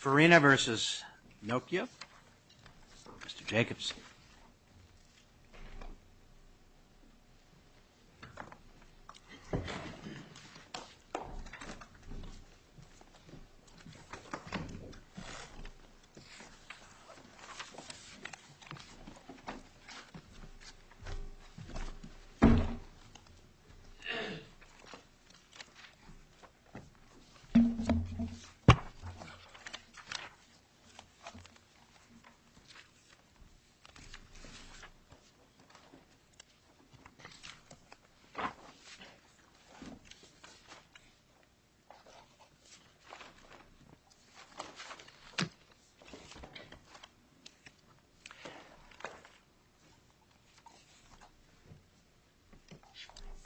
Forina v. Nokia, Mr. Jacobs.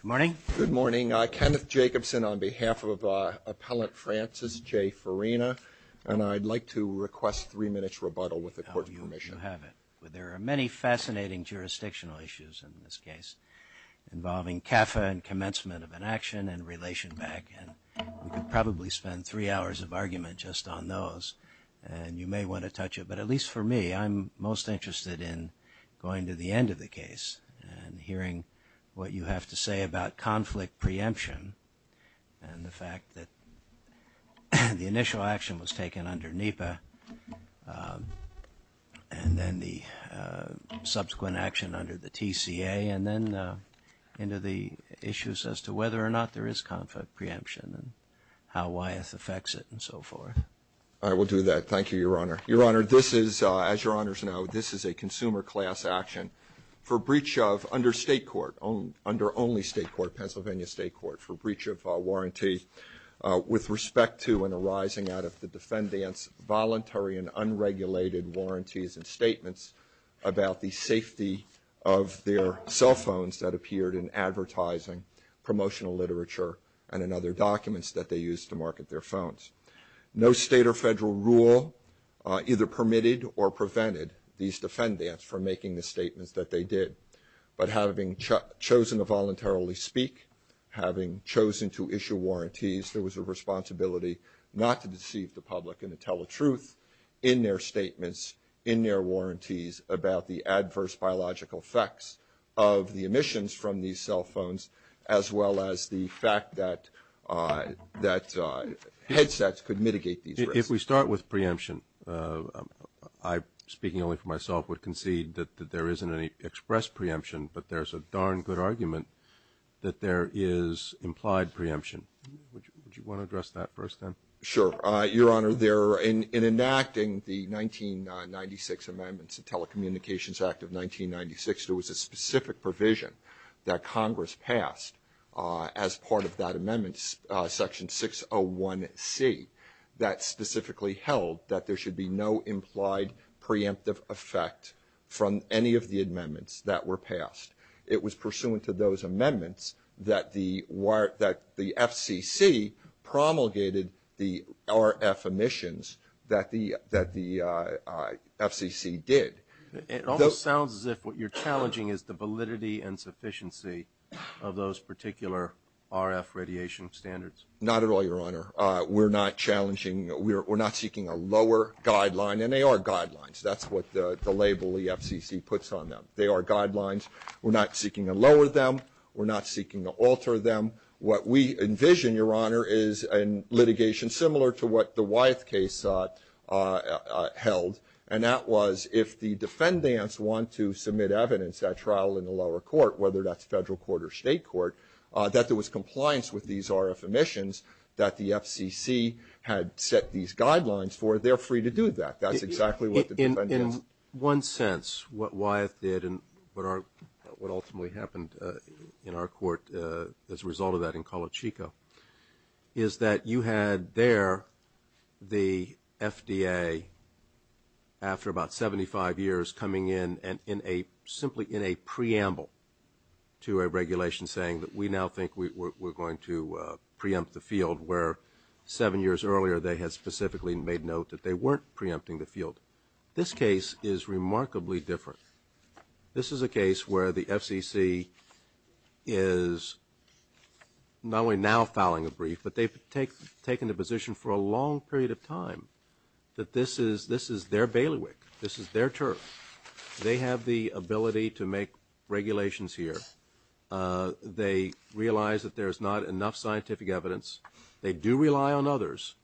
Good morning. Good morning. Kenneth Jacobson on behalf of Appellant Francis J. Forina, and I'd like to request three minutes rebuttal with the Court's permission. You have it. There are many fascinating jurisdictional issues in this case involving CAFA and commencement of an action and relation back, and we could probably spend three hours of argument just on those, and you may want to touch it. But at least for me, I'm most interested in going to the end of the case and hearing what you have to say about conflict preemption and the fact that the initial action was taken under NEPA and then the subsequent action under the TCA and then into the issues as to whether or not there is conflict preemption and how Wyeth affects it and so forth. I will do that. Thank you, Your Honor. Your Honor, this is, as Your Honors know, this is a consumer class action for breach of, under State court, under only State court, Pennsylvania State court, for breach of warranty with respect to and arising out of the defendant's voluntary and unregulated warranties and statements about the safety of their cell phones that appeared in advertising, promotional literature, and in other documents that they used to market their phones. No State or Federal rule either permitted or prevented these defendants from making the statements that they did. But having chosen to voluntarily speak, having chosen to issue warranties, there was a responsibility not to deceive the public and to tell the truth in their statements, in their warranties about the adverse biological effects of the emissions from these cell phones, as well as the fact that headsets could mitigate these risks. If we start with preemption, I, speaking only for myself, would concede that there isn't any express preemption, but there's a darn good argument that there is implied preemption. Would you want to address that first, then? Sure. Your Honor, in enacting the 1996 amendments, the Telecommunications Act of 1996, there was a specific provision that Congress passed as part of that amendment, Section 601C, that specifically held that there should be no implied preemptive effect from any of the amendments that were passed. It was pursuant to those amendments that the FCC promulgated the RF emissions that the FCC did. It almost sounds as if what you're challenging is the validity and sufficiency of those particular RF radiation standards. Not at all, Your Honor. We're not challenging, we're not seeking a lower guideline, and they are guidelines. That's what the label the FCC puts on them. They are guidelines. We're not seeking to lower them. We're not seeking to alter them. What we envision, Your Honor, is litigation similar to what the Wyeth case held, and that was if the defendants want to submit evidence at trial in the lower court, whether that's federal court or state court, that there was compliance with these RF emissions that the FCC had set these guidelines for, they're free to do that. That's exactly what the defendants. In one sense, what Wyeth did and what ultimately happened in our court as a result of that in Colachico, is that you had there the FDA, after about 75 years, coming in simply in a preamble to a regulation saying that we now think we're going to preempt the field, where seven years earlier they had specifically made note that they weren't preempting the field. This case is remarkably different. This is a case where the FCC is not only now fouling a brief, but they've taken the position for a long period of time that this is their bailiwick. This is their turf. They have the ability to make regulations here. They realize that there's not enough scientific evidence. They do rely on others,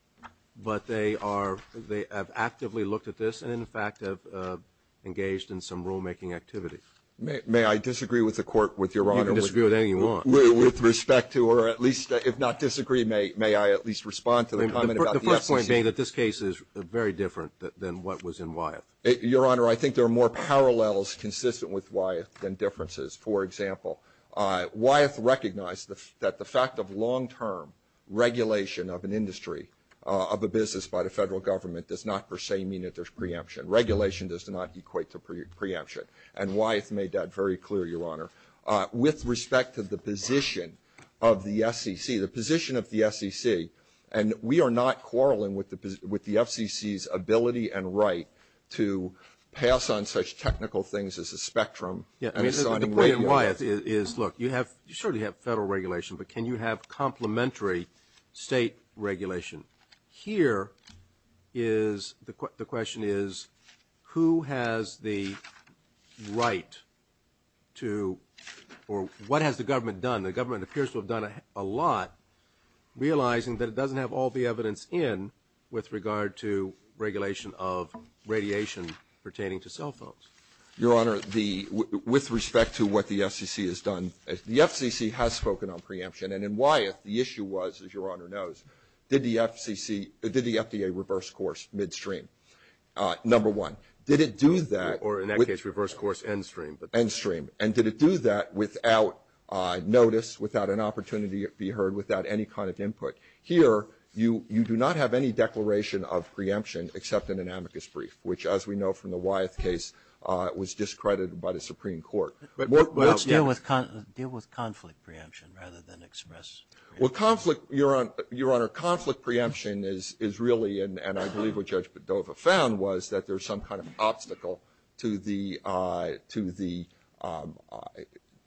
but they have actively looked at this and, in fact, have engaged in some rulemaking activity. May I disagree with the Court, Your Honor? You can disagree with anything you want. With respect to, or at least if not disagree, may I at least respond to the comment about the FCC? The first point being that this case is very different than what was in Wyeth. Your Honor, I think there are more parallels consistent with Wyeth than differences. For example, Wyeth recognized that the fact of long-term regulation of an industry, of a business by the federal government, does not per se mean that there's preemption. Regulation does not equate to preemption, and Wyeth made that very clear, Your Honor. With respect to the position of the FCC, the position of the FCC, and we are not quarreling with the FCC's ability and right to pass on such technical things as a spectrum The point in Wyeth is, look, you surely have federal regulation, but can you have complementary state regulation? Here, the question is, who has the right to, or what has the government done? The government appears to have done a lot, realizing that it doesn't have all the evidence in with regard to regulation of radiation pertaining to cell phones. Your Honor, with respect to what the FCC has done, the FCC has spoken on preemption. And in Wyeth, the issue was, as Your Honor knows, did the FDA reverse course midstream? Number one, did it do that? Or in that case, reverse course end stream. End stream. And did it do that without notice, without an opportunity to be heard, without any kind of input? Here, you do not have any declaration of preemption except in an amicus brief, which, as we know from the Wyeth case, was discredited by the Supreme Court. Let's deal with conflict preemption rather than express preemption. Well, conflict, Your Honor, conflict preemption is really, and I believe what Judge Dover found, was that there's some kind of obstacle to the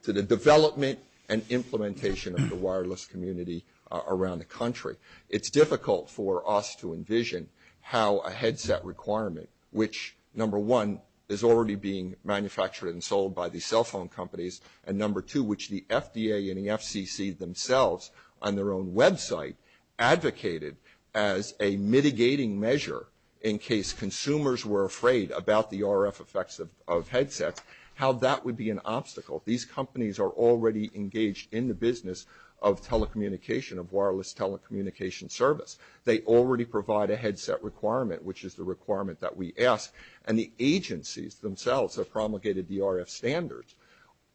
development and implementation of the wireless community around the country. It's difficult for us to envision how a headset requirement, which, number one, is already being manufactured and sold by the cell phone companies, and number two, which the FDA and the FCC themselves on their own website advocated as a mitigating measure in case consumers were afraid about the RF effects of headsets, how that would be an obstacle. These companies are already engaged in the business of telecommunication, of wireless telecommunication service. They already provide a headset requirement, which is the requirement that we ask, and the agencies themselves have promulgated the RF standards,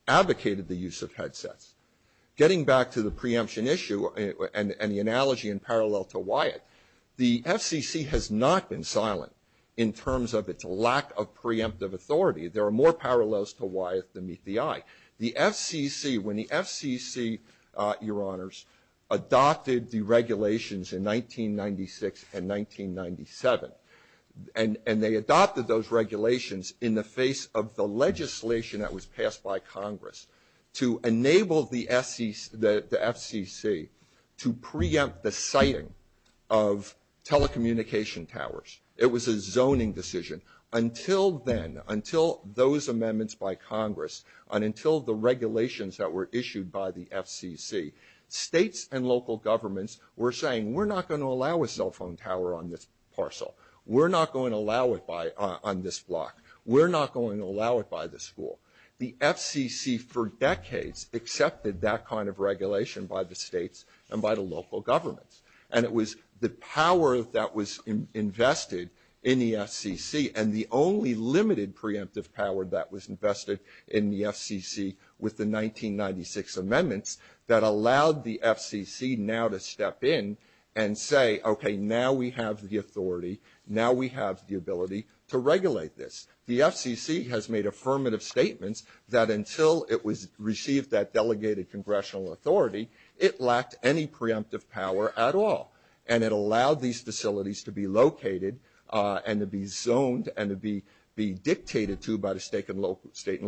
advocated the use of headsets. Getting back to the preemption issue and the analogy in parallel to Wyeth, the FCC has not been silent in terms of its lack of preemptive authority. There are more parallels to Wyeth than meet the eye. The FCC, when the FCC, Your Honors, adopted the regulations in 1996 and 1997, and they adopted those regulations in the face of the legislation that was passed by Congress to enable the FCC to preempt the siting of telecommunication towers, it was a zoning decision. Until then, until those amendments by Congress and until the regulations that were issued by the FCC, states and local governments were saying, we're not going to allow a cell phone tower on this parcel. We're not going to allow it on this block. We're not going to allow it by the school. The FCC for decades accepted that kind of regulation by the states and by the local governments, and it was the power that was invested in the FCC and the only limited preemptive power that was invested in the FCC with the 1996 amendments that allowed the FCC now to step in and say, okay, now we have the authority. Now we have the ability to regulate this. The FCC has made affirmative statements that until it received that delegated congressional authority, it lacked any preemptive power at all, and it allowed these facilities to be located and to be zoned and to be dictated to by the state and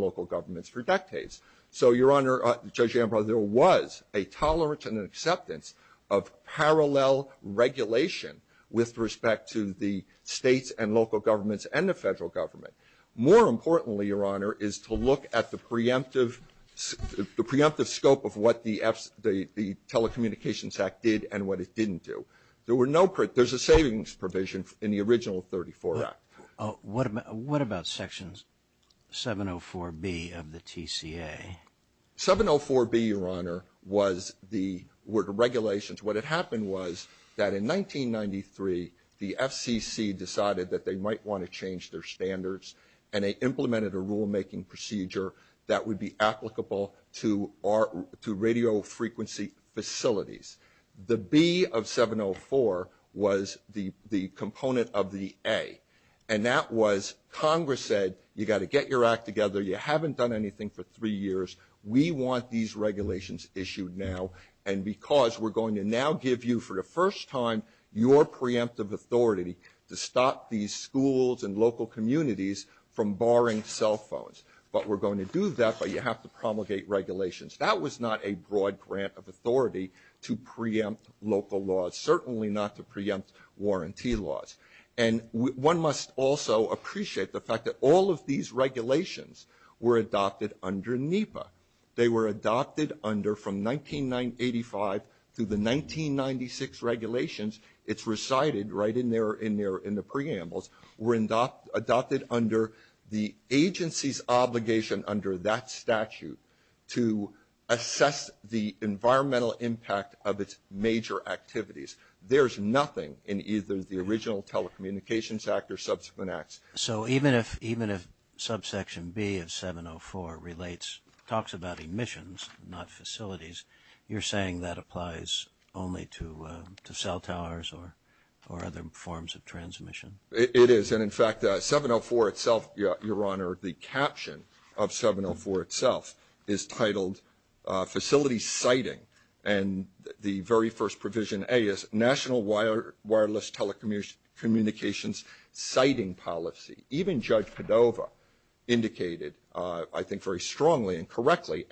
local governments for decades. So, Your Honor, Judge Ambrose, there was a tolerance and an acceptance of parallel regulation with respect to the states and local governments and the federal government. More importantly, Your Honor, is to look at the preemptive scope of what the Telecommunications Act did and what it didn't do. There's a savings provision in the original 34 Act. What about Section 704B of the TCA? 704B, Your Honor, were the regulations. What had happened was that in 1993, the FCC decided that they might want to change their standards and they implemented a rulemaking procedure that would be applicable to radio frequency facilities. The B of 704 was the component of the A, and that was Congress said, you've got to get your act together, you haven't done anything for three years, we want these regulations issued now, and because we're going to now give you, for the first time, your preemptive authority to stop these schools and local communities from borrowing cell phones. But we're going to do that, but you have to promulgate regulations. That was not a broad grant of authority to preempt local laws, certainly not to preempt warranty laws. One must also appreciate the fact that all of these regulations were adopted under NEPA. They were adopted under, from 1985 through the 1996 regulations, it's recited right in there in the preambles, were adopted under the agency's obligation under that statute to assess the environmental impact of its major activities. There's nothing in either the original Telecommunications Act or subsequent acts. So even if subsection B of 704 relates, talks about emissions, not facilities, you're saying that applies only to cell towers or other forms of transmission? It is, and in fact, 704 itself, Your Honor, the caption of 704 itself is titled, Facilities Siting, and the very first provision, A, is National Wireless Telecommunications Siting Policy. Even Judge Cordova indicated, I think very strongly and correctly,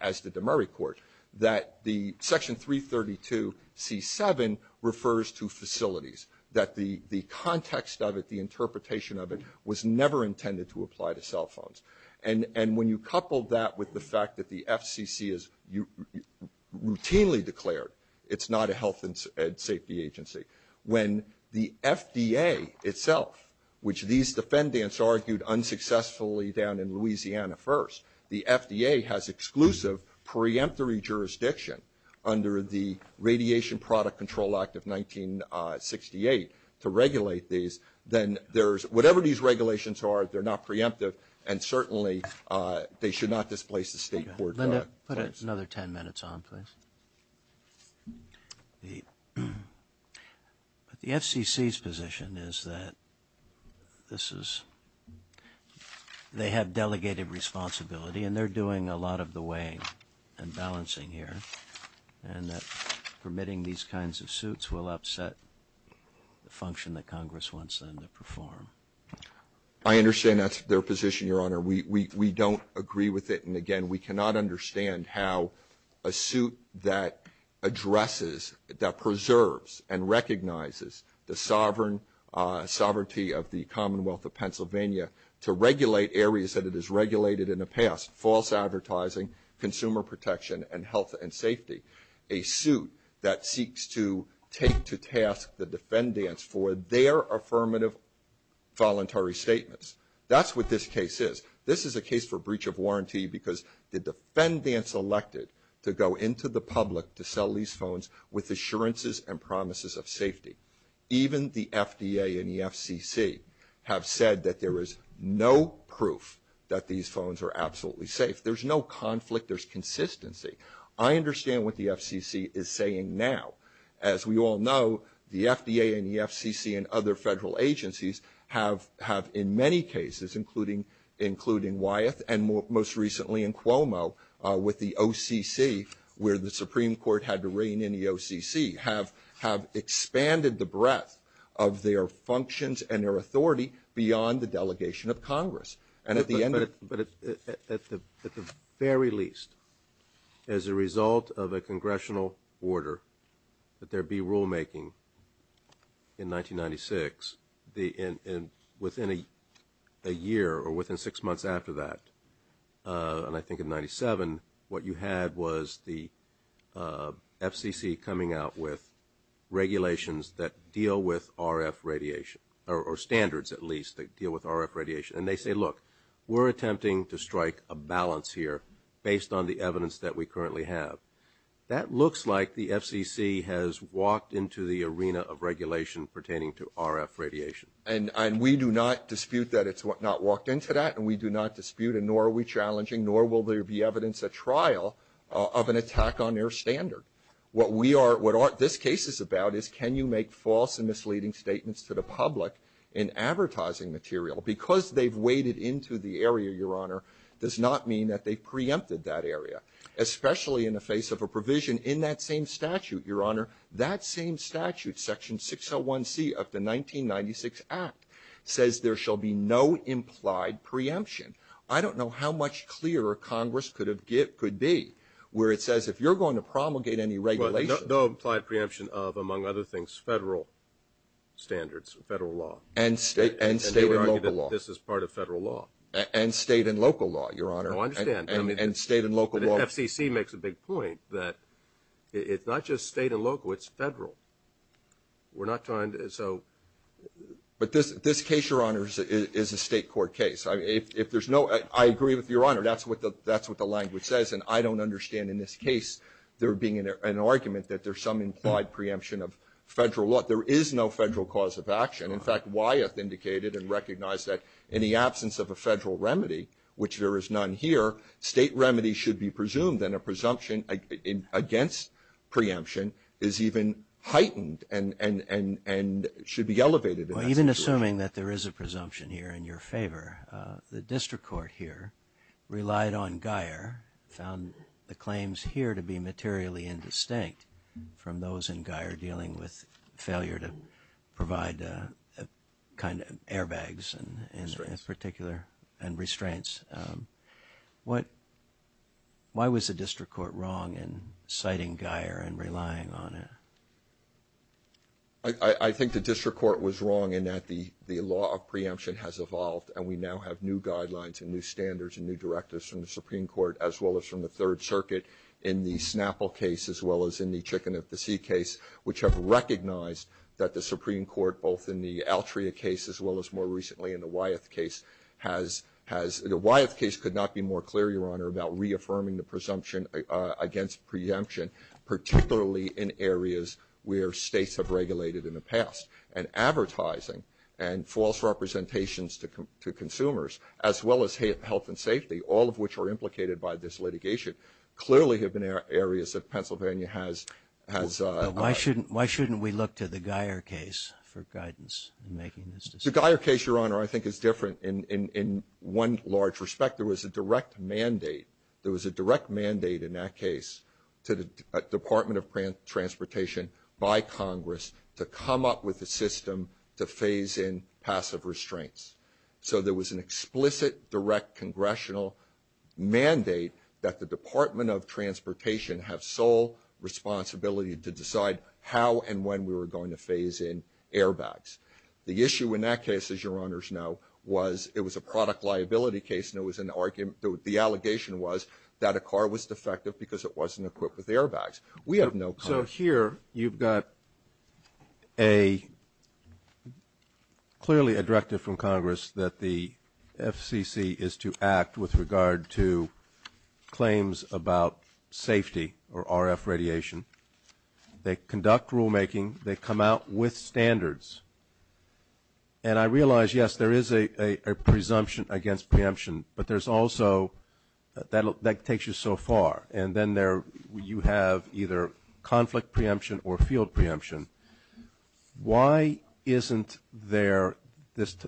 as did the Murray Court, that the Section 332C7 refers to facilities, that the context of it, the interpretation of it, was never intended to apply to cell phones. And when you couple that with the fact that the FCC is routinely declared, it's not a health and safety agency. When the FDA itself, which these defendants argued unsuccessfully down in Louisiana first, the FDA has exclusive preemptory jurisdiction under the Radiation Product Control Act of 1968 to regulate these, then there's, whatever these regulations are, they're not preemptive, and certainly they should not displace the State Court. Linda, put another 10 minutes on, please. The FCC's position is that this is, they have delegated responsibility, and they're doing a lot of the weighing and balancing here, and that permitting these kinds of suits will upset the function that Congress wants them to perform. I understand that's their position, Your Honor. We don't agree with it, and again, we cannot understand how a suit that addresses, that preserves and recognizes the sovereignty of the Commonwealth of Pennsylvania to regulate areas that it has regulated in the past, false advertising, consumer protection, and health and safety, a suit that seeks to take to task the defendants for their affirmative voluntary statements. That's what this case is. This is a case for breach of warranty because the defendants elected to go into the public to sell these phones with assurances and promises of safety, even the FDA and the FCC have said that there is no proof that these phones are absolutely safe. There's no conflict. There's consistency. I understand what the FCC is saying now. As we all know, the FDA and the FCC and other federal agencies have in many cases, including Wyeth and most recently in Cuomo with the OCC where the Supreme Court had to reign in the OCC, have expanded the breadth of their functions and their authority beyond the delegation of Congress. But at the very least, as a result of a congressional order that there be rulemaking in 1996, within a year or within six months after that, and I think in 97, what you had was the FCC coming out with regulations that deal with RF radiation, or standards at least that deal with RF radiation. And they say, look, we're attempting to strike a balance here based on the evidence that we currently have. That looks like the FCC has walked into the arena of regulation pertaining to RF radiation. And we do not dispute that it's not walked into that, and we do not dispute, and nor are we challenging, nor will there be evidence at trial of an attack on their standard. What this case is about is can you make false and misleading statements to the public in advertising material? Because they've waded into the area, Your Honor, does not mean that they've preempted that area, especially in the face of a provision in that same statute, Your Honor. That same statute, Section 601C of the 1996 Act, says there shall be no implied preemption. I don't know how much clearer Congress could be where it says if you're going to promulgate any regulation. No implied preemption of, among other things, federal standards, federal law. And state and local law. And they argue that this is part of federal law. And state and local law, Your Honor. No, I understand. And state and local law. The FCC makes a big point that it's not just state and local, it's federal. We're not trying to, so. But this case, Your Honor, is a state court case. If there's no, I agree with Your Honor, that's what the language says, and I don't understand in this case there being an argument that there's some implied preemption of federal law. But there is no federal cause of action. In fact, Wyeth indicated and recognized that in the absence of a federal remedy, which there is none here, state remedy should be presumed, and a presumption against preemption is even heightened and should be elevated in that situation. Well, even assuming that there is a presumption here in your favor, the district court here relied on Geier, found the claims here to be materially indistinct from those in Geier dealing with failure to provide kind of airbags in particular and restraints. Why was the district court wrong in citing Geier and relying on it? I think the district court was wrong in that the law of preemption has evolved and we now have new guidelines and new standards and new directives from the Supreme Court as well as from the Third Circuit in the Snapple case as well as in the Chicken of the Sea case, which have recognized that the Supreme Court, both in the Altria case as well as more recently in the Wyeth case, has, the Wyeth case could not be more clear, Your Honor, about reaffirming the presumption against preemption, particularly in areas where states have regulated in the past. And advertising and false representations to consumers as well as health and safety, all of which are implicated by this litigation, clearly have been areas that Pennsylvania has. Why shouldn't we look to the Geier case for guidance in making this decision? The Geier case, Your Honor, I think is different in one large respect. There was a direct mandate. There was a direct mandate in that case to the Department of Transportation by Congress to come up with a system to phase in passive restraints. So there was an explicit direct congressional mandate that the Department of Transportation have sole responsibility to decide how and when we were going to phase in airbags. The issue in that case, as Your Honors know, was it was a product liability case, and the allegation was that a car was defective because it wasn't equipped with airbags. We have no comment. So here you've got a clearly a directive from Congress that the FCC is to act with regard to claims about safety or RF radiation. They conduct rulemaking. They come out with standards. And I realize, yes, there is a presumption against preemption, but there's also that takes you so far. And then you have either conflict preemption or field preemption. Why isn't there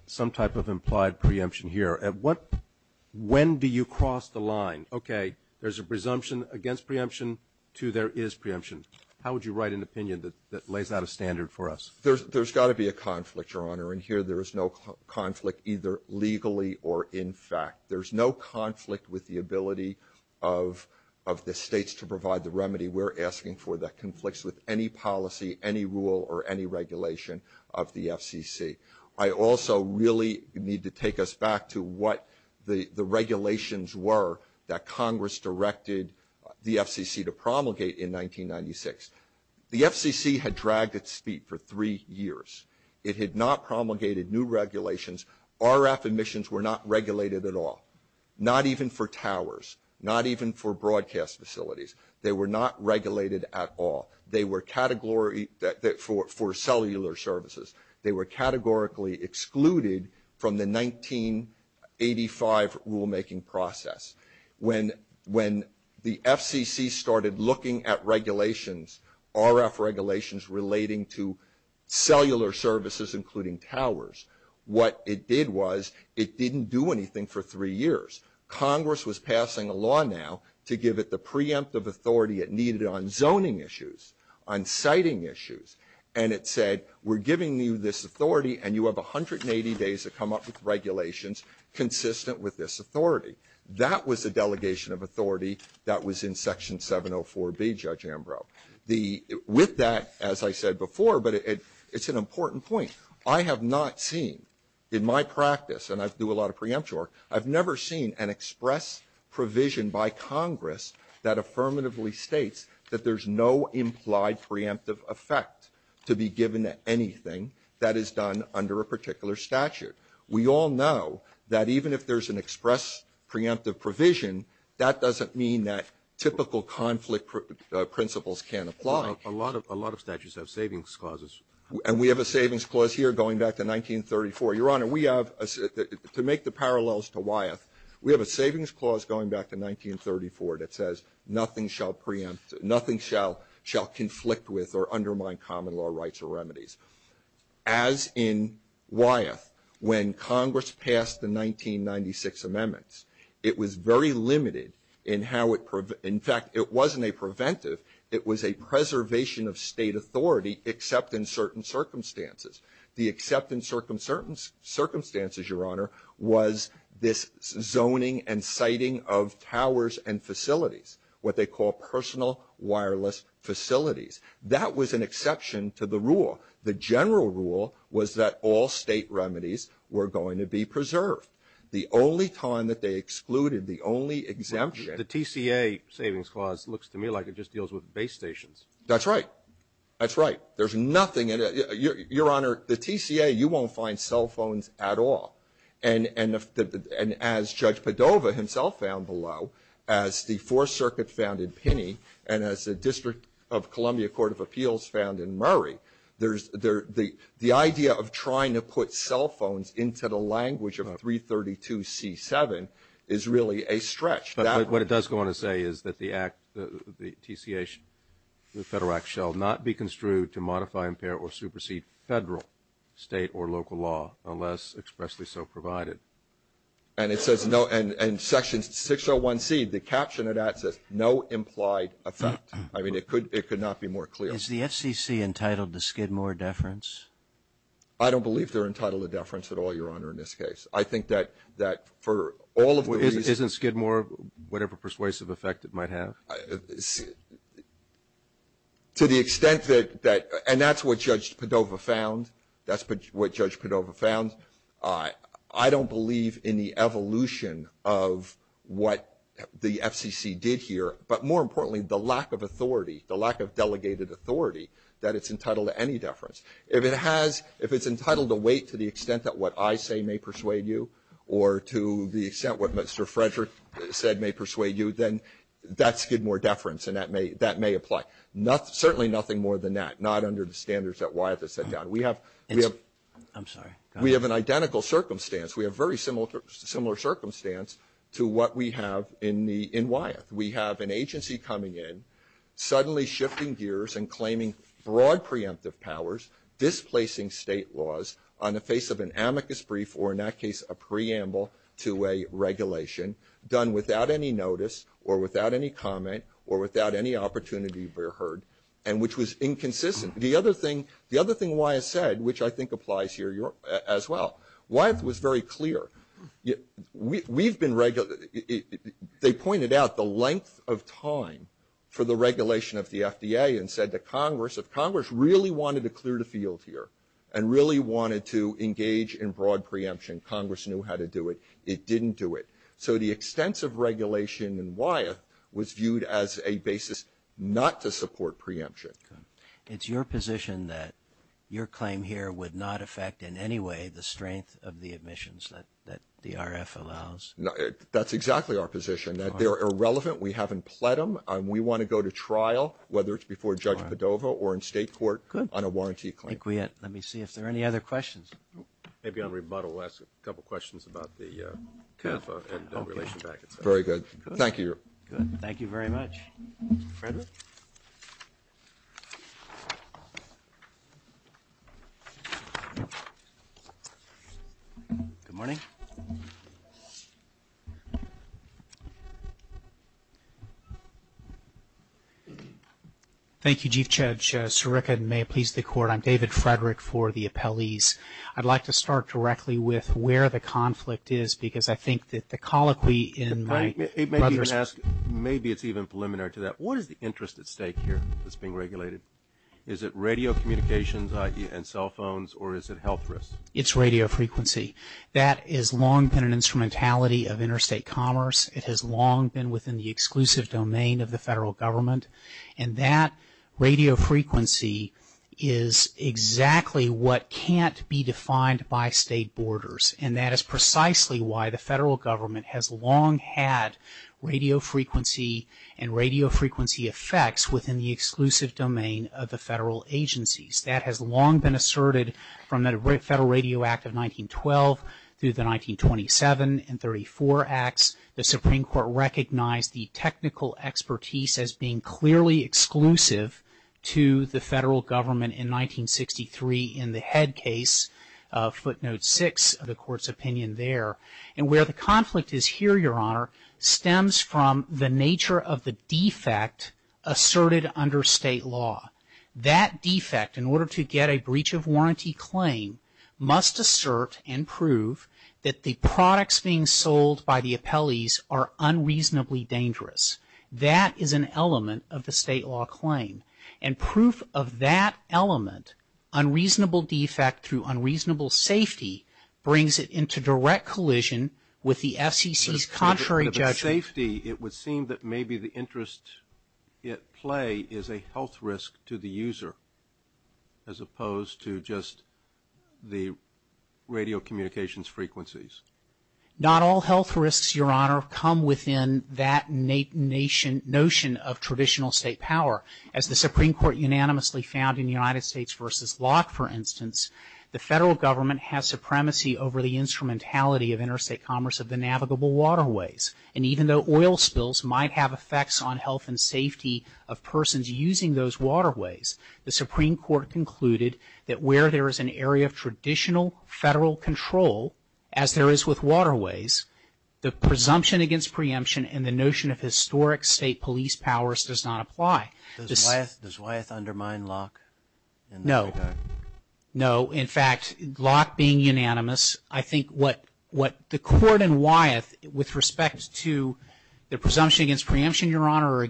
some type of implied preemption here? When do you cross the line? Okay, there's a presumption against preemption to there is preemption. How would you write an opinion that lays out a standard for us? There's got to be a conflict, Your Honor. And here there is no conflict either legally or in fact. There's no conflict with the ability of the states to provide the remedy we're asking for that conflicts with any policy, any rule, or any regulation of the FCC. I also really need to take us back to what the regulations were that Congress directed the FCC to promulgate in 1996. The FCC had dragged its feet for three years. It had not promulgated new regulations. RF emissions were not regulated at all, not even for towers, not even for broadcast facilities. They were not regulated at all. They were category for cellular services. They were categorically excluded from the 1985 rulemaking process. When the FCC started looking at regulations, RF regulations relating to cellular services including towers, what it did was it didn't do anything for three years. Congress was passing a law now to give it the preemptive authority it needed on zoning issues, on siting issues. And it said we're giving you this authority and you have 180 days to come up with regulations consistent with this authority. That was the delegation of authority that was in Section 704B, Judge Ambrose. With that, as I said before, but it's an important point. I have not seen in my practice, and I do a lot of preempture work, I've never seen an express provision by Congress that affirmatively states that there's no implied preemptive effect to be given to anything that is done under a particular statute. We all know that even if there's an express preemptive provision, that doesn't mean that typical conflict principles can't apply. A lot of statutes have savings clauses. And we have a savings clause here going back to 1934. Your Honor, we have, to make the parallels to Wyeth, we have a savings clause going back to 1934 that says nothing shall preempt, nothing shall conflict with or undermine common law rights or remedies. As in Wyeth, when Congress passed the 1996 amendments, it was very limited in how it In fact, it wasn't a preventive. It was a preservation of state authority except in certain circumstances. The except in certain circumstances, Your Honor, was this zoning and citing of towers and facilities, what they call personal wireless facilities. That was an exception to the rule. The general rule was that all state remedies were going to be preserved. The only time that they excluded, the only exemption The TCA savings clause looks to me like it just deals with base stations. That's right. That's right. There's nothing in it. Your Honor, the TCA, you won't find cell phones at all. And as Judge Padova himself found below, as the Fourth Circuit found in Pinney and as the District of Columbia Court of Appeals found in Murray, there's the idea of trying to put cell phones into the language of 332C7 is really a stretch. But what it does go on to say is that the act, the TCA, the Federal Act, shall not be construed to modify, impair, or supersede Federal, State, or local law unless expressly so provided. And it says no, and Section 601C, the caption of that says no implied effect. I mean, it could not be more clear. Is the FCC entitled to Skidmore deference? I don't believe they're entitled to deference at all, Your Honor, in this case. I think that for all of the reasons Isn't Skidmore whatever persuasive effect it might have? To the extent that, and that's what Judge Padova found. That's what Judge Padova found. I don't believe in the evolution of what the FCC did here. But more importantly, the lack of authority, the lack of delegated authority that it's entitled to any deference. If it's entitled to wait to the extent that what I say may persuade you or to the extent what Mr. Frederick said may persuade you, then that's Skidmore deference, and that may apply. Certainly nothing more than that. Not under the standards that Wyeth has set down. We have an identical circumstance. We have a very similar circumstance to what we have in Wyeth. We have an agency coming in, suddenly shifting gears and claiming broad preemptive powers, displacing state laws on the face of an amicus brief, or in that case a preamble to a regulation, done without any notice or without any comment or without any opportunity to be heard, and which was inconsistent. The other thing Wyeth said, which I think applies here as well, Wyeth was very clear. We've been, they pointed out the length of time for the regulation of the FDA and said to Congress, if Congress really wanted to clear the field here and really wanted to engage in broad preemption, Congress knew how to do it. It didn't do it. So the extensive regulation in Wyeth was viewed as a basis not to support preemption. It's your position that your claim here would not affect in any way the strength of the admissions that the RF allows? That's exactly our position, that they're irrelevant. We haven't pled them. We want to go to trial, whether it's before Judge Padova or in state court, on a warranty claim. Thank you, Wyeth. Let me see if there are any other questions. Maybe on rebuttal we'll ask a couple of questions about the CAFA and the relation packets. Very good. Thank you. Good. Thank you very much. Frederick? Good morning. Thank you, Chief Judge. Sirica, and may it please the Court, I'm David Frederick for the appellees. I'd like to start directly with where the conflict is, because I think that the colloquy in my brother's ---- that's being regulated. Is it radio communications, i.e., cell phones, or is it health risks? It's radio frequency. That has long been an instrumentality of interstate commerce. It has long been within the exclusive domain of the federal government, and that radio frequency is exactly what can't be defined by state borders, and that is precisely why the federal government has long had radio frequency and radio frequency effects within the exclusive domain of the federal agencies. That has long been asserted from the Federal Radio Act of 1912 through the 1927 and 1934 acts. The Supreme Court recognized the technical expertise as being clearly exclusive to the federal government in 1963 in the head case, footnote 6 of the Court's opinion there. And where the conflict is here, Your Honor, stems from the nature of the defect asserted under state law. That defect, in order to get a breach of warranty claim, must assert and prove that the products being sold by the appellees are unreasonably dangerous. That is an element of the state law claim, and proof of that element, unreasonable defect through unreasonable safety, brings it into direct collision with the FCC's contrary judgment. But if it's safety, it would seem that maybe the interest at play is a health risk to the user as opposed to just the radio communications frequencies. Not all health risks, Your Honor, come within that notion of traditional state power. As the Supreme Court unanimously found in the United States v. Locke, for instance, the federal government has supremacy over the instrumentality of interstate commerce of the navigable waterways. And even though oil spills might have effects on health and safety of persons using those waterways, the Supreme Court concluded that where there is an area of traditional federal control, as there is with waterways, the presumption against preemption and the notion of historic state police powers does not apply. Does Wyeth undermine Locke? No. No. In fact, Locke being unanimous, I think what the court in Wyeth, with respect to the presumption against preemption, Your Honor,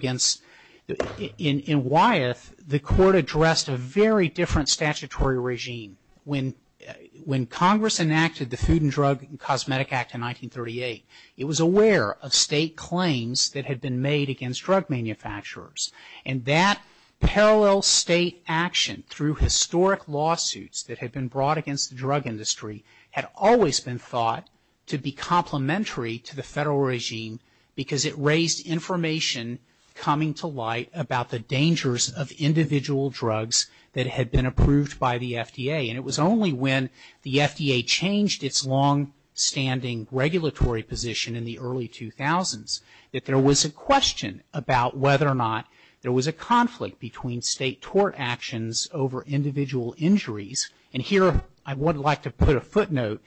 in Wyeth the court addressed a very different statutory regime. When Congress enacted the Food and Drug and Cosmetic Act in 1938, it was aware of state claims that had been made against drug manufacturers. And that parallel state action through historic lawsuits that had been brought against the drug industry had always been thought to be complementary to the federal regime because it raised information coming to light about the dangers of individual drugs that had been approved by the FDA. And it was only when the FDA changed its longstanding regulatory position in the early 2000s that there was a question about whether or not there was a conflict between state tort actions over individual injuries. And here I would like to put a footnote.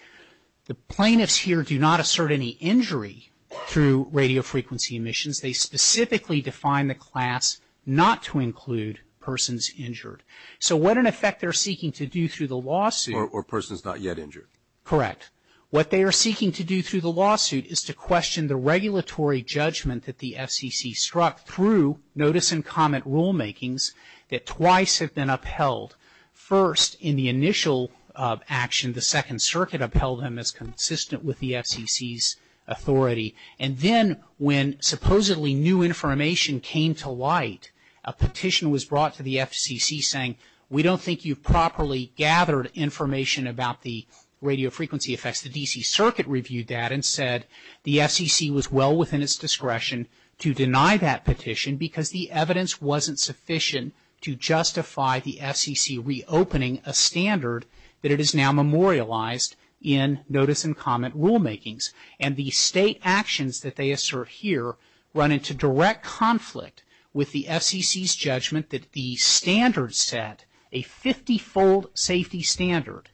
The plaintiffs here do not assert any injury through radiofrequency emissions. They specifically define the class not to include persons injured. So what, in effect, they're seeking to do through the lawsuit. Or persons not yet injured. Correct. What they are seeking to do through the lawsuit is to question the regulatory judgment that the FCC struck through notice and comment rulemakings that twice have been upheld. First, in the initial action, the Second Circuit upheld them as consistent with the FCC's authority. And then when supposedly new information came to light, a petition was brought to the FCC saying, we don't think you've properly gathered information about the radiofrequency effects. The D.C. Circuit reviewed that and said the FCC was well within its discretion to deny that petition because the evidence wasn't sufficient to justify the FCC reopening a standard that it has now memorialized in notice and comment rulemakings. And the state actions that they assert here run into direct conflict with the FCC's judgment that the standard set, a 50-fold safety standard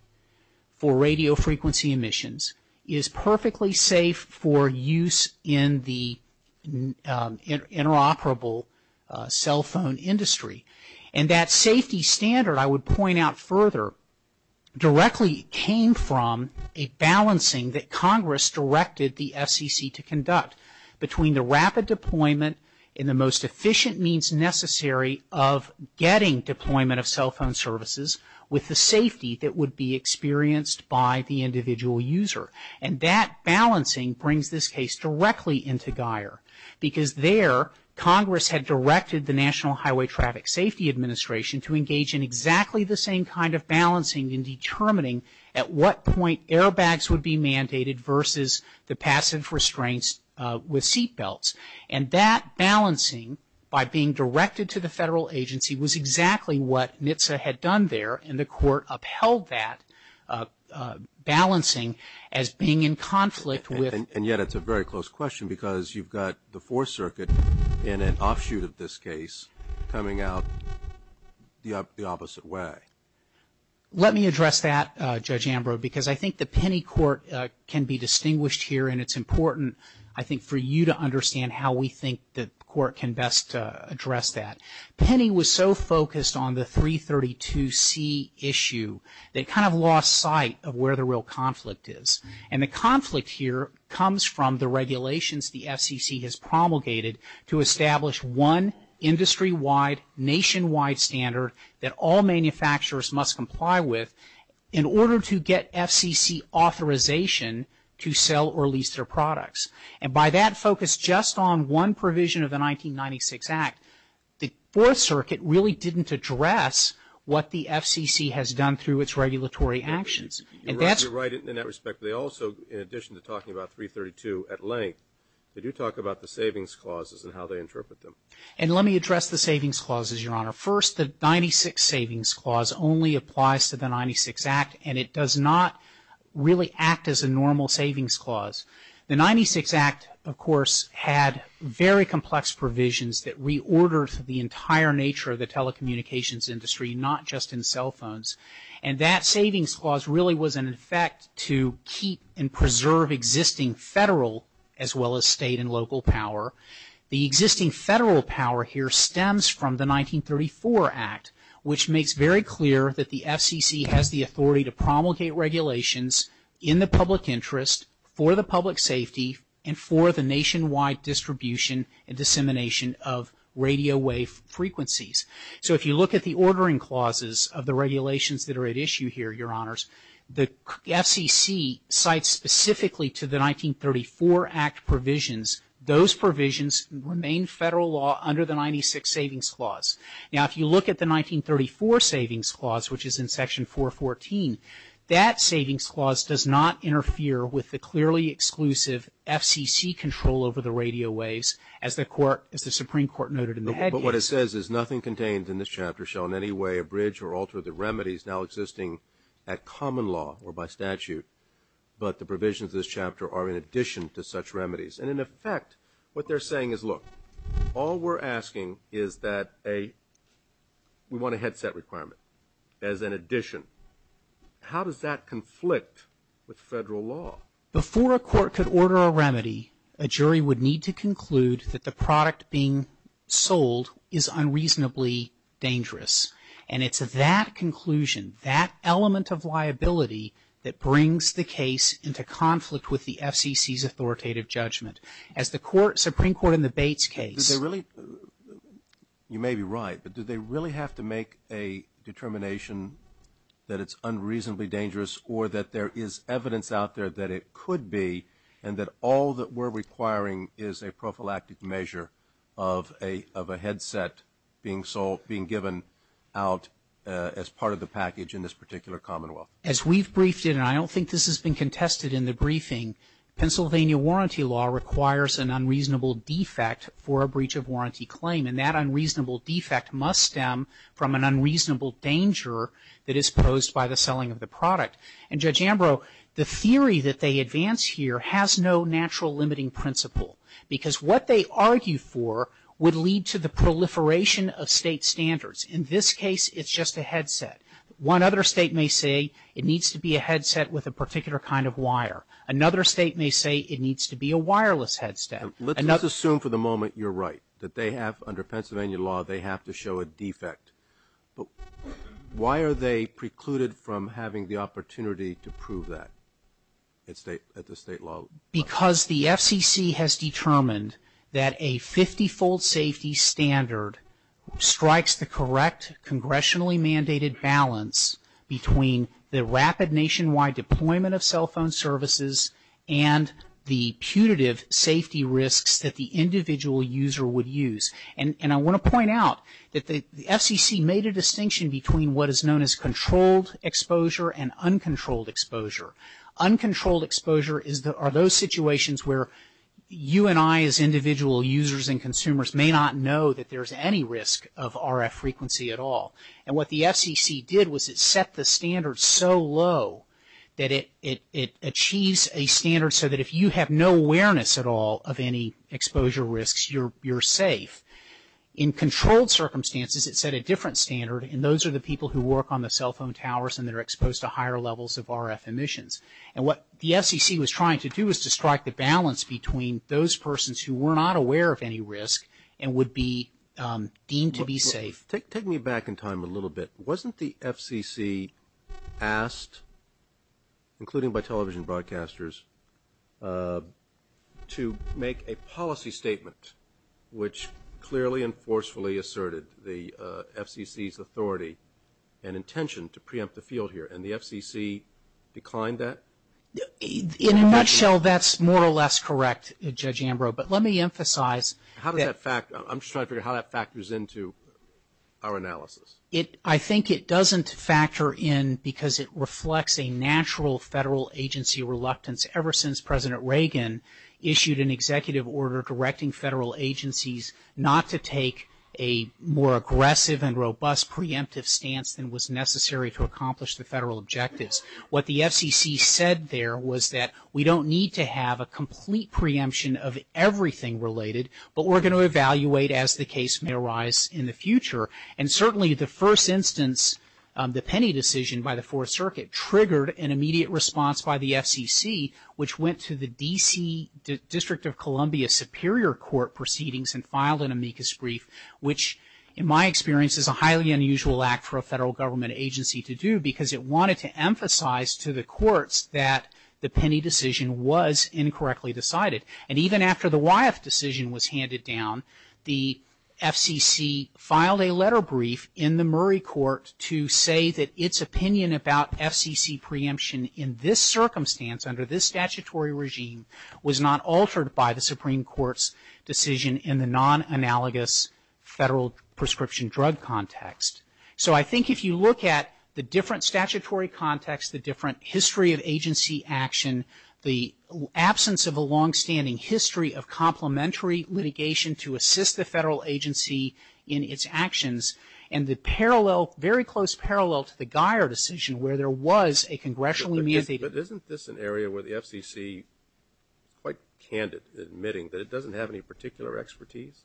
for radiofrequency emissions, is perfectly safe for use in the interoperable cell phone industry. And that safety standard, I would point out further, directly came from a balancing that Congress directed the FCC to conduct between the rapid deployment in the most efficient means necessary of getting deployment of cell phone services with the safety that would be experienced by the individual user. And that balancing brings this case directly into Geier because there Congress had directed the National Highway Traffic Safety Administration to engage in exactly the same kind of balancing in determining at what point airbags would be mandated versus the passive restraints with seatbelts. And that balancing by being directed to the federal agency was exactly what NHTSA had done there and the court upheld that balancing as being in conflict with. And yet it's a very close question because you've got the Fourth Circuit in an offshoot of this case coming out the opposite way. Let me address that, Judge Ambrose, because I think the Penny court can be distinguished here and it's important, I think, for you to understand how we think the court can best address that. Penny was so focused on the 332C issue, they kind of lost sight of where the real conflict is. And the conflict here comes from the regulations the FCC has promulgated to establish one industry-wide, nationwide standard that all manufacturers must comply with in order to get FCC authorization to sell or lease their products. And by that focus just on one provision of the 1996 Act, the Fourth Circuit really didn't address what the FCC has done through its regulatory actions. You're right in that respect. They also, in addition to talking about 332 at length, they do talk about the savings clauses and how they interpret them. And let me address the savings clauses, Your Honor. First, the 96 Savings Clause only applies to the 96 Act and it does not really act as a normal savings clause. The 96 Act, of course, had very complex provisions that reordered the entire nature of the telecommunications industry, not just in cell phones. And that savings clause really was in effect to keep and preserve existing federal as well as state and local power. The existing federal power here stems from the 1934 Act, which makes very clear that the FCC has the authority to promulgate regulations in the public interest, for the public safety, and for the nationwide distribution and dissemination of radio wave frequencies. So if you look at the ordering clauses of the regulations that are at issue here, Your Honors, the FCC cites specifically to the 1934 Act provisions, those provisions remain federal law under the 96 Savings Clause. Now, if you look at the 1934 Savings Clause, which is in Section 414, that savings clause does not interfere with the clearly exclusive FCC control over the radio waves, as the Supreme Court noted in the head. But what it says is nothing contained in this chapter shall in any way abridge or alter the remedies now existing at common law or by statute, but the provisions of this chapter are in addition to such remedies. And in effect, what they're saying is, look, all we're asking is that a, we want a headset requirement as an addition. How does that conflict with federal law? Before a court could order a remedy, a jury would need to conclude that the product being sold is unreasonably dangerous. And it's that conclusion, that element of liability, that brings the case into conflict with the FCC's authoritative judgment. As the Supreme Court in the Bates case. You may be right, but do they really have to make a determination that it's unreasonably dangerous or that there is evidence out there that it could be and that all that we're requiring is a prophylactic measure of a headset being sold, being given out as part of the package in this particular commonwealth? As we've briefed it, and I don't think this has been contested in the briefing, Pennsylvania warranty law requires an unreasonable defect for a breach of warranty claim. And that unreasonable defect must stem from an unreasonable danger that is posed by the selling of the product. And Judge Ambrose, the theory that they advance here has no natural limiting principle. Because what they argue for would lead to the proliferation of state standards. In this case, it's just a headset. One other state may say it needs to be a headset with a particular kind of wire. Another state may say it needs to be a wireless headset. Let's assume for the moment you're right, that they have, under Pennsylvania law, they have to show a defect. But why are they precluded from having the opportunity to prove that at the state level? Because the FCC has determined that a 50-fold safety standard strikes the correct congressionally mandated balance between the rapid nationwide deployment of cell phone services and the putative safety risks that the individual user would use. And I want to point out that the FCC made a distinction between what is known as controlled exposure and uncontrolled exposure. Uncontrolled exposure are those situations where you and I as individual users and consumers may not know that there's any risk of RF frequency at all. And what the FCC did was it set the standard so low that it achieves a standard so that if you have no awareness at all of any exposure risks, you're safe. In controlled circumstances, it set a different standard, and those are the people who work on the cell phone towers and that are exposed to higher levels of RF emissions. And what the FCC was trying to do was to strike the balance between those persons who were not aware of any risk and would be deemed to be safe. Take me back in time a little bit. Wasn't the FCC asked, including by television broadcasters, to make a policy statement which clearly and forcefully asserted the FCC's authority and intention to preempt the field here? And the FCC declined that? In a nutshell, that's more or less correct, Judge Ambrose, but let me emphasize. How does that factor? I'm just trying to figure out how that factors into our analysis. I think it doesn't factor in because it reflects a natural federal agency reluctance ever since President Reagan issued an executive order directing federal agencies not to take a more aggressive and robust preemptive stance than was necessary to accomplish the federal objectives. What the FCC said there was that we don't need to have a complete preemption of everything related, but we're going to evaluate as the case may arise in the future. And certainly the first instance, the Penney decision by the Fourth Circuit, triggered an immediate response by the FCC, which went to the D.C. District of Columbia Superior Court proceedings and filed an amicus brief, which in my experience is a highly unusual act for a federal government agency to do because it wanted to emphasize to the courts that the Penney decision was incorrectly decided. And even after the Wyeth decision was handed down, the FCC filed a letter brief in the Murray Court to say that its opinion about FCC preemption in this circumstance, under this statutory regime, was not altered by the Supreme Court's decision in the non-analogous federal prescription drug context. So I think if you look at the different statutory contexts, the different history of agency action, the absence of a longstanding history of complementary litigation to assist the federal agency in its actions, and the parallel, very close parallel to the Geyer decision where there was a congressionally mandated. But isn't this an area where the FCC is quite candid, admitting that it doesn't have any particular expertise?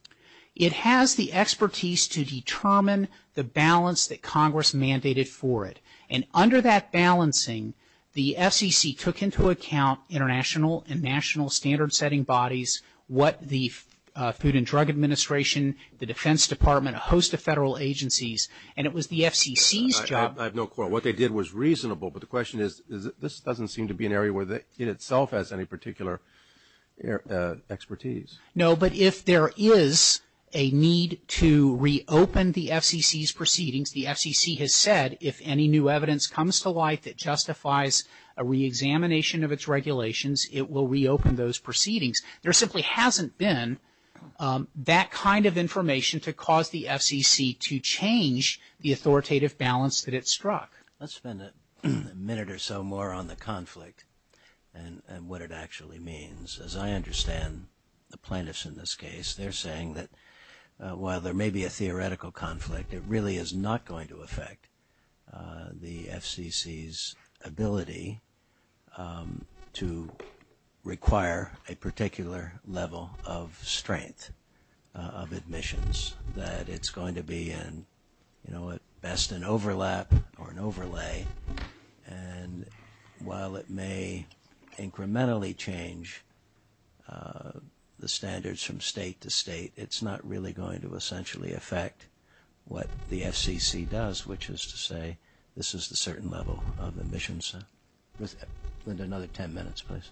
It has the expertise to determine the balance that Congress mandated for it. And under that balancing, the FCC took into account international and national standard-setting bodies, what the Food and Drug Administration, the Defense Department, a host of federal agencies, and it was the FCC's job. I have no quote. What they did was reasonable. But the question is, this doesn't seem to be an area where it itself has any particular expertise. No, but if there is a need to reopen the FCC's proceedings, the FCC has said if any new evidence comes to light that justifies a reexamination of its regulations, it will reopen those proceedings. There simply hasn't been that kind of information to cause the FCC to change the authoritative balance that it struck. Let's spend a minute or so more on the conflict and what it actually means. As I understand the plaintiffs in this case, they're saying that while there may be a theoretical conflict, it really is not going to affect the FCC's ability to require a particular level of strength of admissions, that it's going to be at best an overlap or an overlay. And while it may incrementally change the standards from state to state, it's not really going to essentially affect what the FCC does, which is to say this is the certain level of admissions. Another ten minutes, please.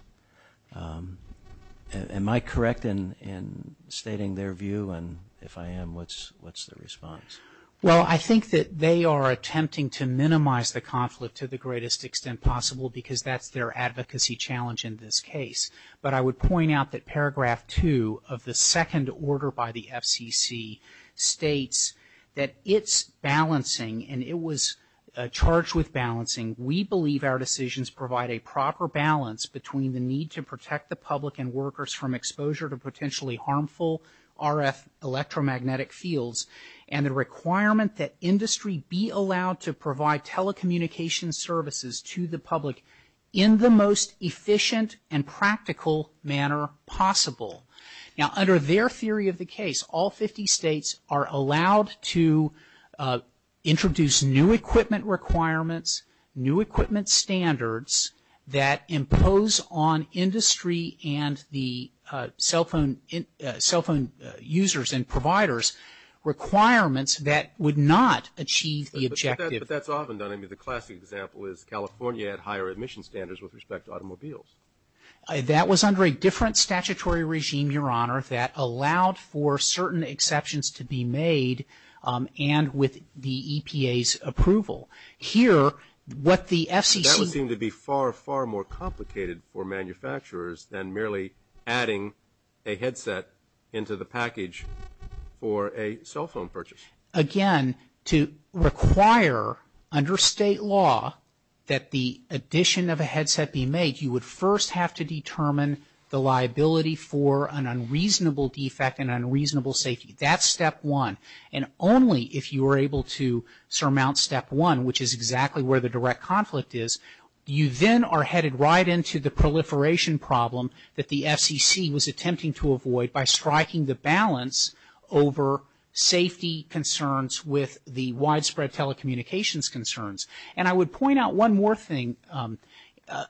Am I correct in stating their view? And if I am, what's the response? Well, I think that they are attempting to minimize the conflict to the greatest extent possible because that's their advocacy challenge in this case. But I would point out that paragraph two of the second order by the FCC states that it's balancing, and it was charged with balancing, we believe our decisions provide a proper balance between the need to protect the public and workers from exposure to potentially harmful RF electromagnetic fields and the requirement that industry be allowed to provide telecommunication services to the public in the most efficient and practical manner possible. Now, under their theory of the case, all 50 states are allowed to introduce new equipment requirements, new equipment standards that impose on industry and the cell phone users and providers requirements that would not achieve the objective. But that's often done. I mean, the classic example is California had higher admission standards with respect to automobiles. That was under a different statutory regime, Your Honor, that allowed for certain exceptions to be made and with the EPA's approval. Here, what the FCC... That would seem to be far, far more complicated for manufacturers than merely adding a headset into the package for a cell phone purchase. Again, to require under state law that the addition of a headset be made, you would first have to determine the liability for an unreasonable defect and unreasonable safety. That's step one. And only if you are able to surmount step one, which is exactly where the direct conflict is, you then are headed right into the proliferation problem that the FCC was attempting to avoid by striking the balance over safety concerns with the widespread telecommunications concerns. And I would point out one more thing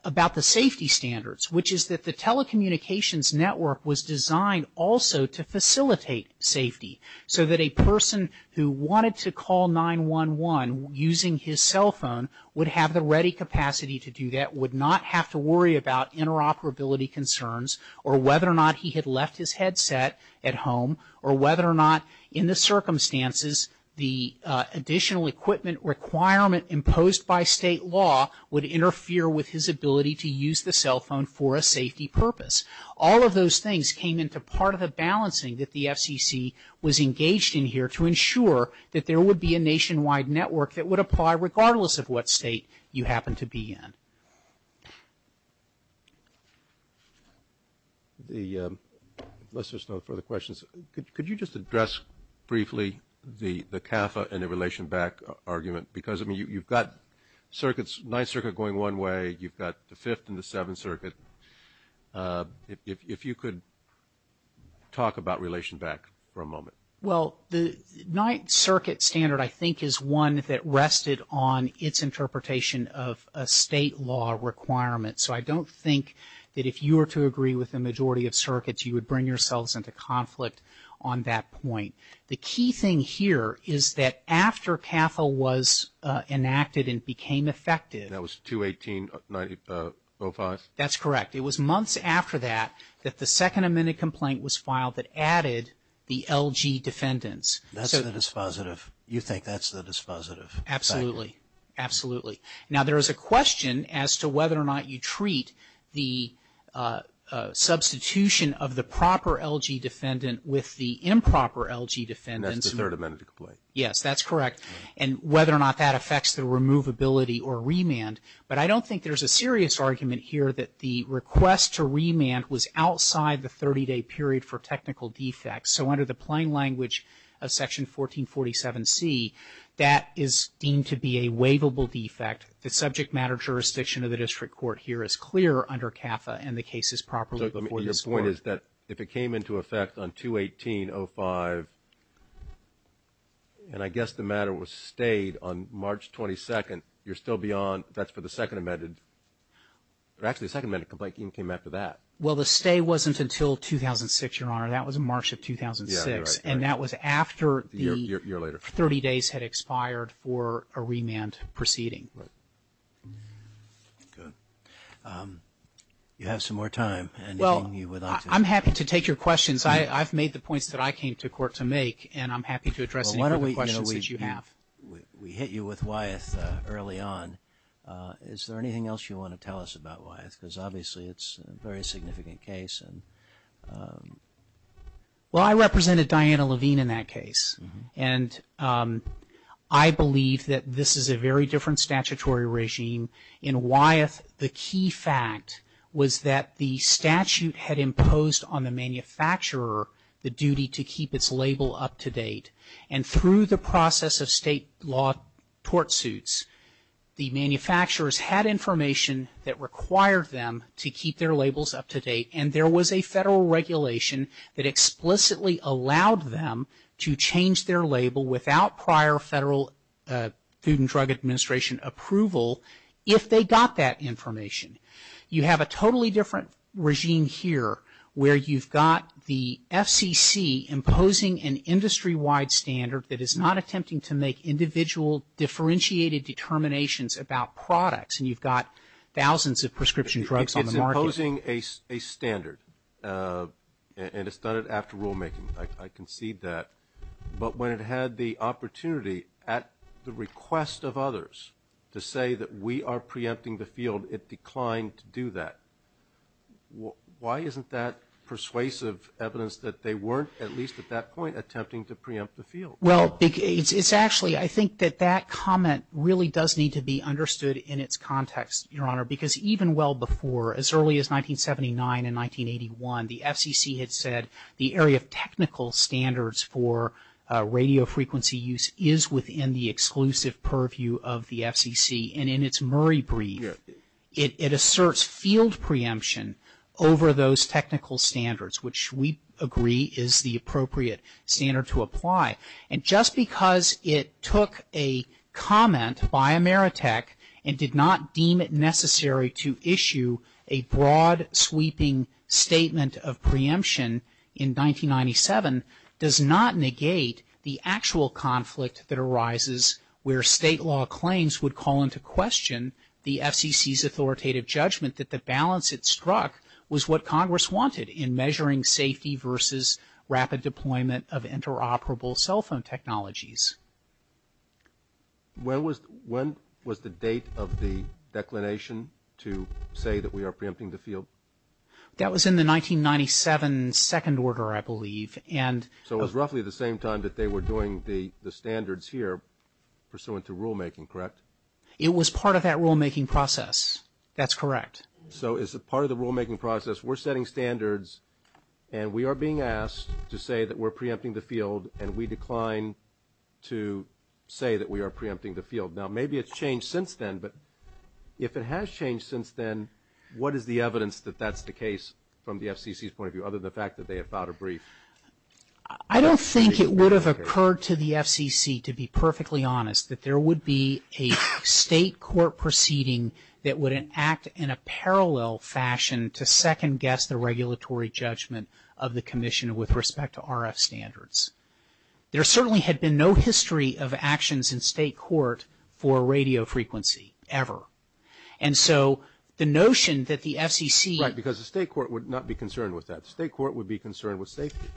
about the safety standards, which is that the telecommunications network was designed also to facilitate safety so that a person who wanted to call 911 using his cell phone would have the ready capacity to do that, would not have to worry about interoperability concerns or whether or not he had left his headset at home or whether or not, in the circumstances, the additional equipment requirement imposed by state law would interfere with his ability to use the cell phone for a safety purpose. All of those things came into part of the balancing that the FCC was engaged in here to ensure that there would be a nationwide network that would apply regardless of what state you happen to be in. The, unless there's no further questions, could you just address briefly the CAFA and the relation back argument? Because, I mean, you've got circuits, Ninth Circuit going one way, you've got the Fifth and the Seventh Circuit. If you could talk about relation back for a moment. Well, the Ninth Circuit standard, I think, is one that rested on its interpretation of a state law requirement. So I don't think that if you were to agree with the majority of circuits, you would bring yourselves into conflict on that point. The key thing here is that after CAFA was enacted and became effective... That was 2018-05? That's correct. It was months after that that the second amended complaint was filed that added the LG defendants. That's the dispositive. You think that's the dispositive? Absolutely. Absolutely. Now there is a question as to whether or not you treat the substitution of the proper LG defendant with the improper LG defendants. That's the third amended complaint. Yes, that's correct. And whether or not that affects the removability or remand. But I don't think there's a serious argument here that the request to remand was outside the 30-day period for technical defects. So under the plain language of Section 1447C, that is deemed to be a waivable defect. The subject matter jurisdiction of the district court here is clear under CAFA and the case is properly before this Court. So your point is that if it came into effect on 2018-05, and I guess the matter was stayed on March 22nd, you're still beyond. That's for the second amended. Actually, the second amended complaint came after that. Well, the stay wasn't until 2006, Your Honor. That was March of 2006. Yeah, you're right. And that was after the 30 days had expired for a remand proceeding. Right. Good. You have some more time. I'm happy to take your questions. I've made the points that I came to court to make, and I'm happy to address any questions that you have. We hit you with Wyeth early on. Is there anything else you want to tell us about Wyeth? Because obviously it's a very significant case. Well, I represented Diana Levine in that case, and I believe that this is a very different statutory regime. In Wyeth, the key fact was that the statute had imposed on the manufacturer the duty to keep its label up to date. And through the process of state law tort suits, the manufacturers had information that required them to keep their labels up to date, and there was a federal regulation that explicitly allowed them to change their label without prior federal Food and Drug Administration approval if they got that information. You have a totally different regime here, where you've got the FCC imposing an industry-wide standard that is not attempting to make individual differentiated determinations about products, and you've got thousands of prescription drugs on the market. It's imposing a standard, and it's done it after rulemaking. I concede that. But when it had the opportunity, at the request of others, to say that we are preempting the field, it declined to do that. Why isn't that persuasive evidence that they weren't, at least at that point, attempting to preempt the field? Well, it's actually, I think that that comment really does need to be understood in its context, Your Honor, because even well before, as early as 1979 and 1981, the FCC had said the area of technical standards for radio frequency use is within the exclusive purview of the FCC, and in its Murray brief, it asserts field preemption over those technical standards, which we agree is the appropriate standard to apply. And just because it took a comment by Ameritech and did not deem it necessary to issue a broad-sweeping statement of preemption in 1997 does not negate the actual conflict that arises where state law claims would call into question the FCC's authoritative judgment that the balance it struck was what Congress wanted in measuring safety versus rapid deployment of interoperable cell phone technologies. When was the date of the declination to say that we are preempting the field? That was in the 1997 second order, I believe. So it was roughly the same time that they were doing the standards here, pursuant to rulemaking, correct? It was part of that rulemaking process. That's correct. So is it part of the rulemaking process? We're setting standards, and we are being asked to say that we're preempting the field, and we decline to say that we are preempting the field. Now, maybe it's changed since then, but if it has changed since then, what is the evidence that that's the case from the FCC's point of view, other than the fact that they have filed a brief? I don't think it would have occurred to the FCC, to be perfectly honest, that there would be a state court proceeding that would act in a parallel fashion to second-guess the regulatory judgment of the commission with respect to RF standards. There certainly had been no history of actions in state court for radio frequency, ever. And so the notion that the FCC... Because the state court would not be concerned with that. The state court would be concerned with safety,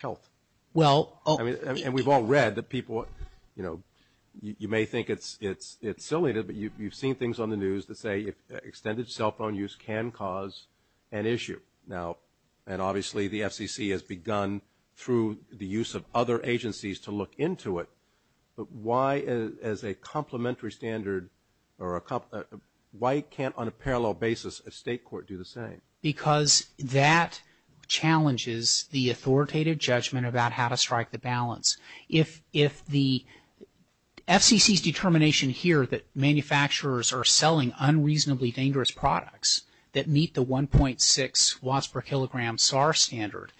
health. Well... And we've all read that people, you know, you may think it's silly, but you've seen things on the news that say extended cell phone use can cause an issue. Now, and obviously the FCC has begun, through the use of other agencies, to look into it, but why, as a complementary standard, or a... Why can't, on a parallel basis, a state court do the same? Because that challenges the authoritative judgment about how to strike the balance. If the FCC's determination here that manufacturers are selling unreasonably dangerous products that meet the 1.6 watts per kilogram SAR standard,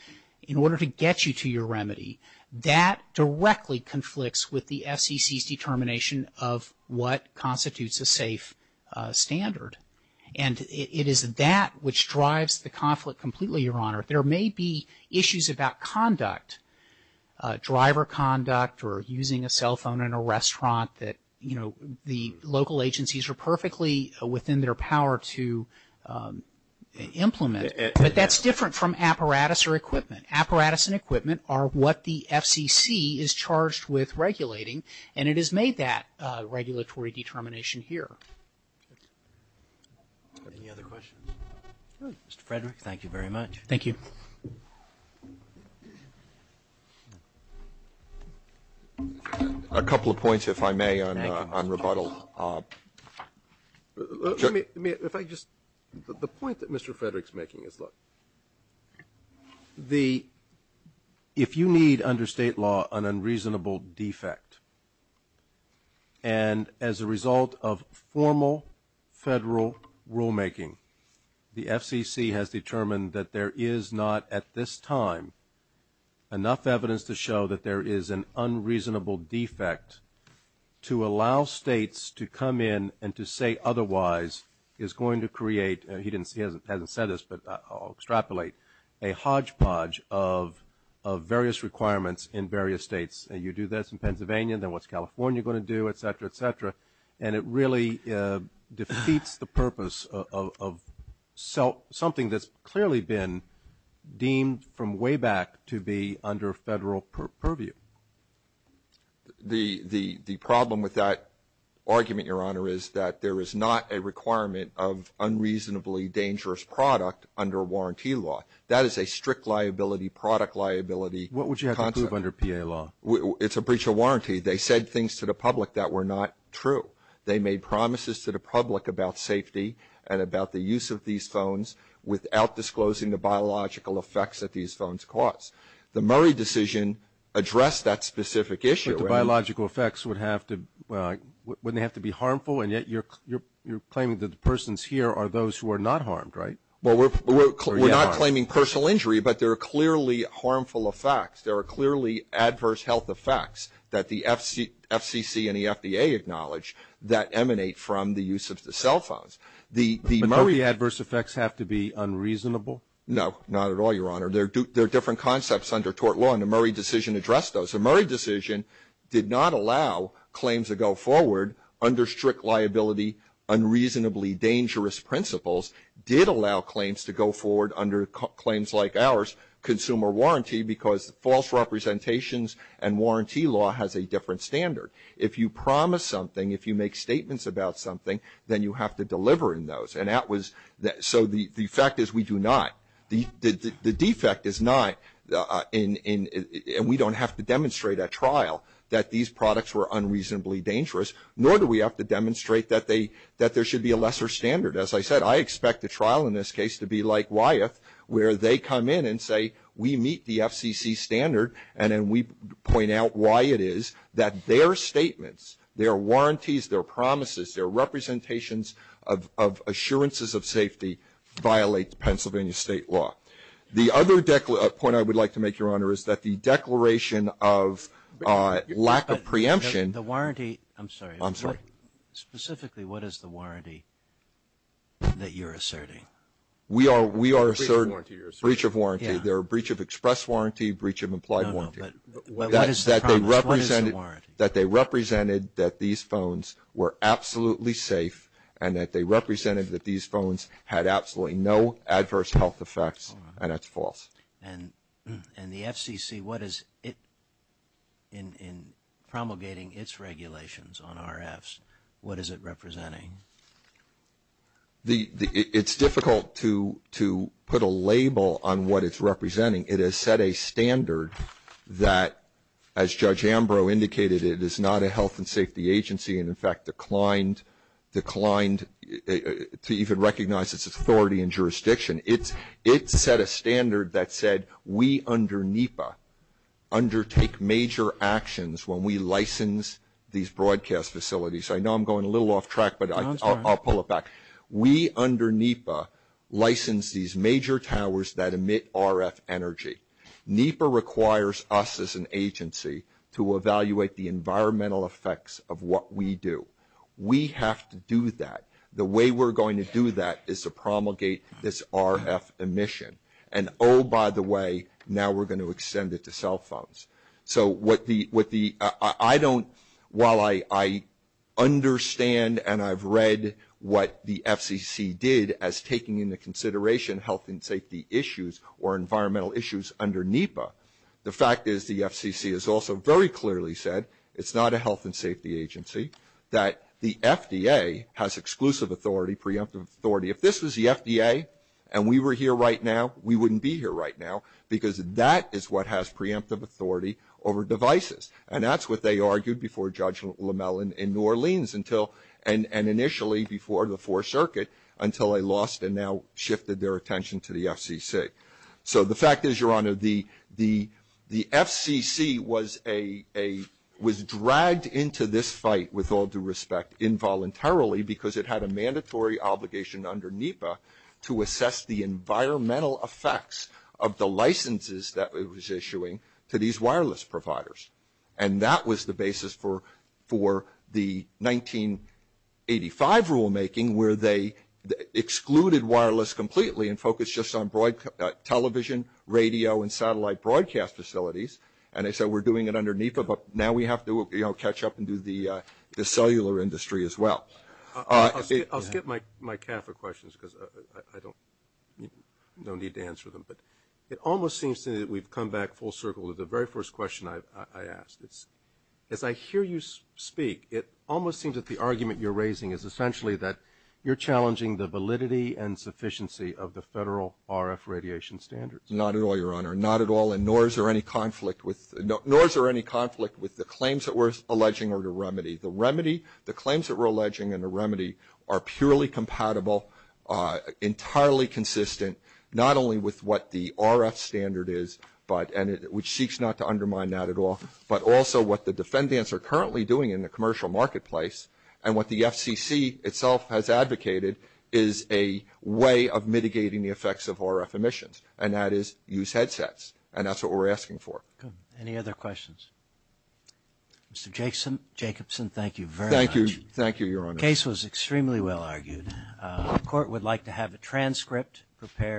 in order to get you to your remedy, that directly conflicts with the FCC's determination of what constitutes a safe standard. And it is that which drives the conflict completely, Your Honor. There may be issues about conduct. Driver conduct, or using a cell phone in a restaurant that, you know, the local agencies are perfectly within their power to implement. But that's different from apparatus or equipment. Apparatus and equipment are what the FCC is charged with regulating, and it has made that regulatory determination here. Any other questions? Mr. Frederick, thank you very much. Thank you. A couple of points, if I may, on rebuttal. Let me, if I just, the point that Mr. Frederick's making is, look, the, if you need under state law an unreasonable defect, and as a result of formal federal rulemaking, the FCC has determined that there is not, at this time, enough evidence to show that there is an unreasonable defect to allow states to come in and to say otherwise is going to create, he hasn't said this, but I'll extrapolate, a hodgepodge of various requirements in various states. You do this in Pennsylvania, then what's California going to do, et cetera, et cetera. And it really defeats the purpose of something that's clearly been deemed, from way back, to be under federal purview. The problem with that argument, Your Honor, is that there is not a requirement of unreasonably dangerous product under warranty law. That is a strict liability, product liability concept. What would you have to prove under PA law? It's a breach of warranty. They said things to the public that were not true. They made promises to the public about safety and about the use of these phones without disclosing the biological effects that these phones cause. The Murray decision addressed that specific issue. But the biological effects would have to, wouldn't they have to be harmful? And yet you're claiming that the persons here are those who are not harmed, right? Well, we're not claiming personal injury, but there are clearly harmful effects. There are clearly adverse health effects that the FCC and the FDA acknowledge that emanate from the use of the cell phones. But don't the adverse effects have to be unreasonable? No, not at all, Your Honor. There are different concepts under tort law, and the Murray decision addressed those. The Murray decision did not allow claims to go forward under strict liability, unreasonably dangerous principles. It did allow claims to go forward under claims like ours, consumer warranty, because false representations and warranty law has a different standard. If you promise something, if you make statements about something, then you have to deliver in those. So the fact is we do not. The defect is not, and we don't have to demonstrate at trial, that these products were unreasonably dangerous, nor do we have to demonstrate that there should be a lesser standard. As I said, I expect the trial in this case to be like Wyeth, where they come in and say, we meet the FCC standard, and then we point out why it is that their statements, their warranties, their promises, their representations of assurances of safety violate Pennsylvania State law. The other point I would like to make, Your Honor, is that the declaration of lack of preemption. The warranty, I'm sorry. I'm sorry. Specifically, what is the warranty that you're asserting? We are asserting breach of warranty. There are breach of express warranty, breach of implied warranty. No, no, but what is the promise? What is the warranty? That they represented that these phones were absolutely safe and that they represented that these phones had absolutely no adverse health effects, and that's false. And the FCC, what is it in promulgating its regulations on RFs, what is it representing? It's difficult to put a label on what it's representing. It has set a standard that, as Judge Ambrose indicated, it is not a health and safety agency and, in fact, declined to even recognize its authority in jurisdiction. It set a standard that said we under NEPA undertake major actions when we license these broadcast facilities. I know I'm going a little off track, but I'll pull it back. We under NEPA license these major towers that emit RF energy. NEPA requires us as an agency to evaluate the environmental effects of what we do. We have to do that. The way we're going to do that is to promulgate this RF emission. And, oh, by the way, now we're going to extend it to cell phones. So while I understand and I've read what the FCC did as taking into consideration health and safety issues or environmental issues under NEPA, the fact is the FCC has also very clearly said it's not a health and safety agency, that the FDA has exclusive authority, preemptive authority. If this was the FDA and we were here right now, we wouldn't be here right now, because that is what has preemptive authority over devices. And that's what they argued before Judge LeMell in New Orleans and initially before the Fourth Circuit until they lost and now shifted their attention to the FCC. So the fact is, Your Honor, the FCC was dragged into this fight with all due respect involuntarily because it had a mandatory obligation under NEPA to assess the environmental effects of the licenses that it was issuing to these wireless providers. And that was the basis for the 1985 rulemaking where they excluded wireless completely and focused just on television, radio, and satellite broadcast facilities. And so we're doing it under NEPA, but now we have to, you know, catch up and do the cellular industry as well. I'll skip my CAFA questions because I don't need to answer them. But it almost seems to me that we've come back full circle to the very first question I asked. As I hear you speak, it almost seems that the argument you're raising is essentially that you're challenging the validity and sufficiency of the federal RF radiation standards. Not at all, Your Honor. Not at all, and nor is there any conflict with the claims that we're alleging are the remedy. The remedy, the claims that we're alleging in the remedy are purely compatible, entirely consistent, not only with what the RF standard is, which seeks not to undermine that at all, but also what the defendants are currently doing in the commercial marketplace and what the FCC itself has advocated is a way of mitigating the effects of RF emissions, and that is use headsets, and that's what we're asking for. Any other questions? Mr. Jacobson, thank you very much. Thank you. Thank you, Your Honor. The case was extremely well argued. The court would like to have a transcript prepared.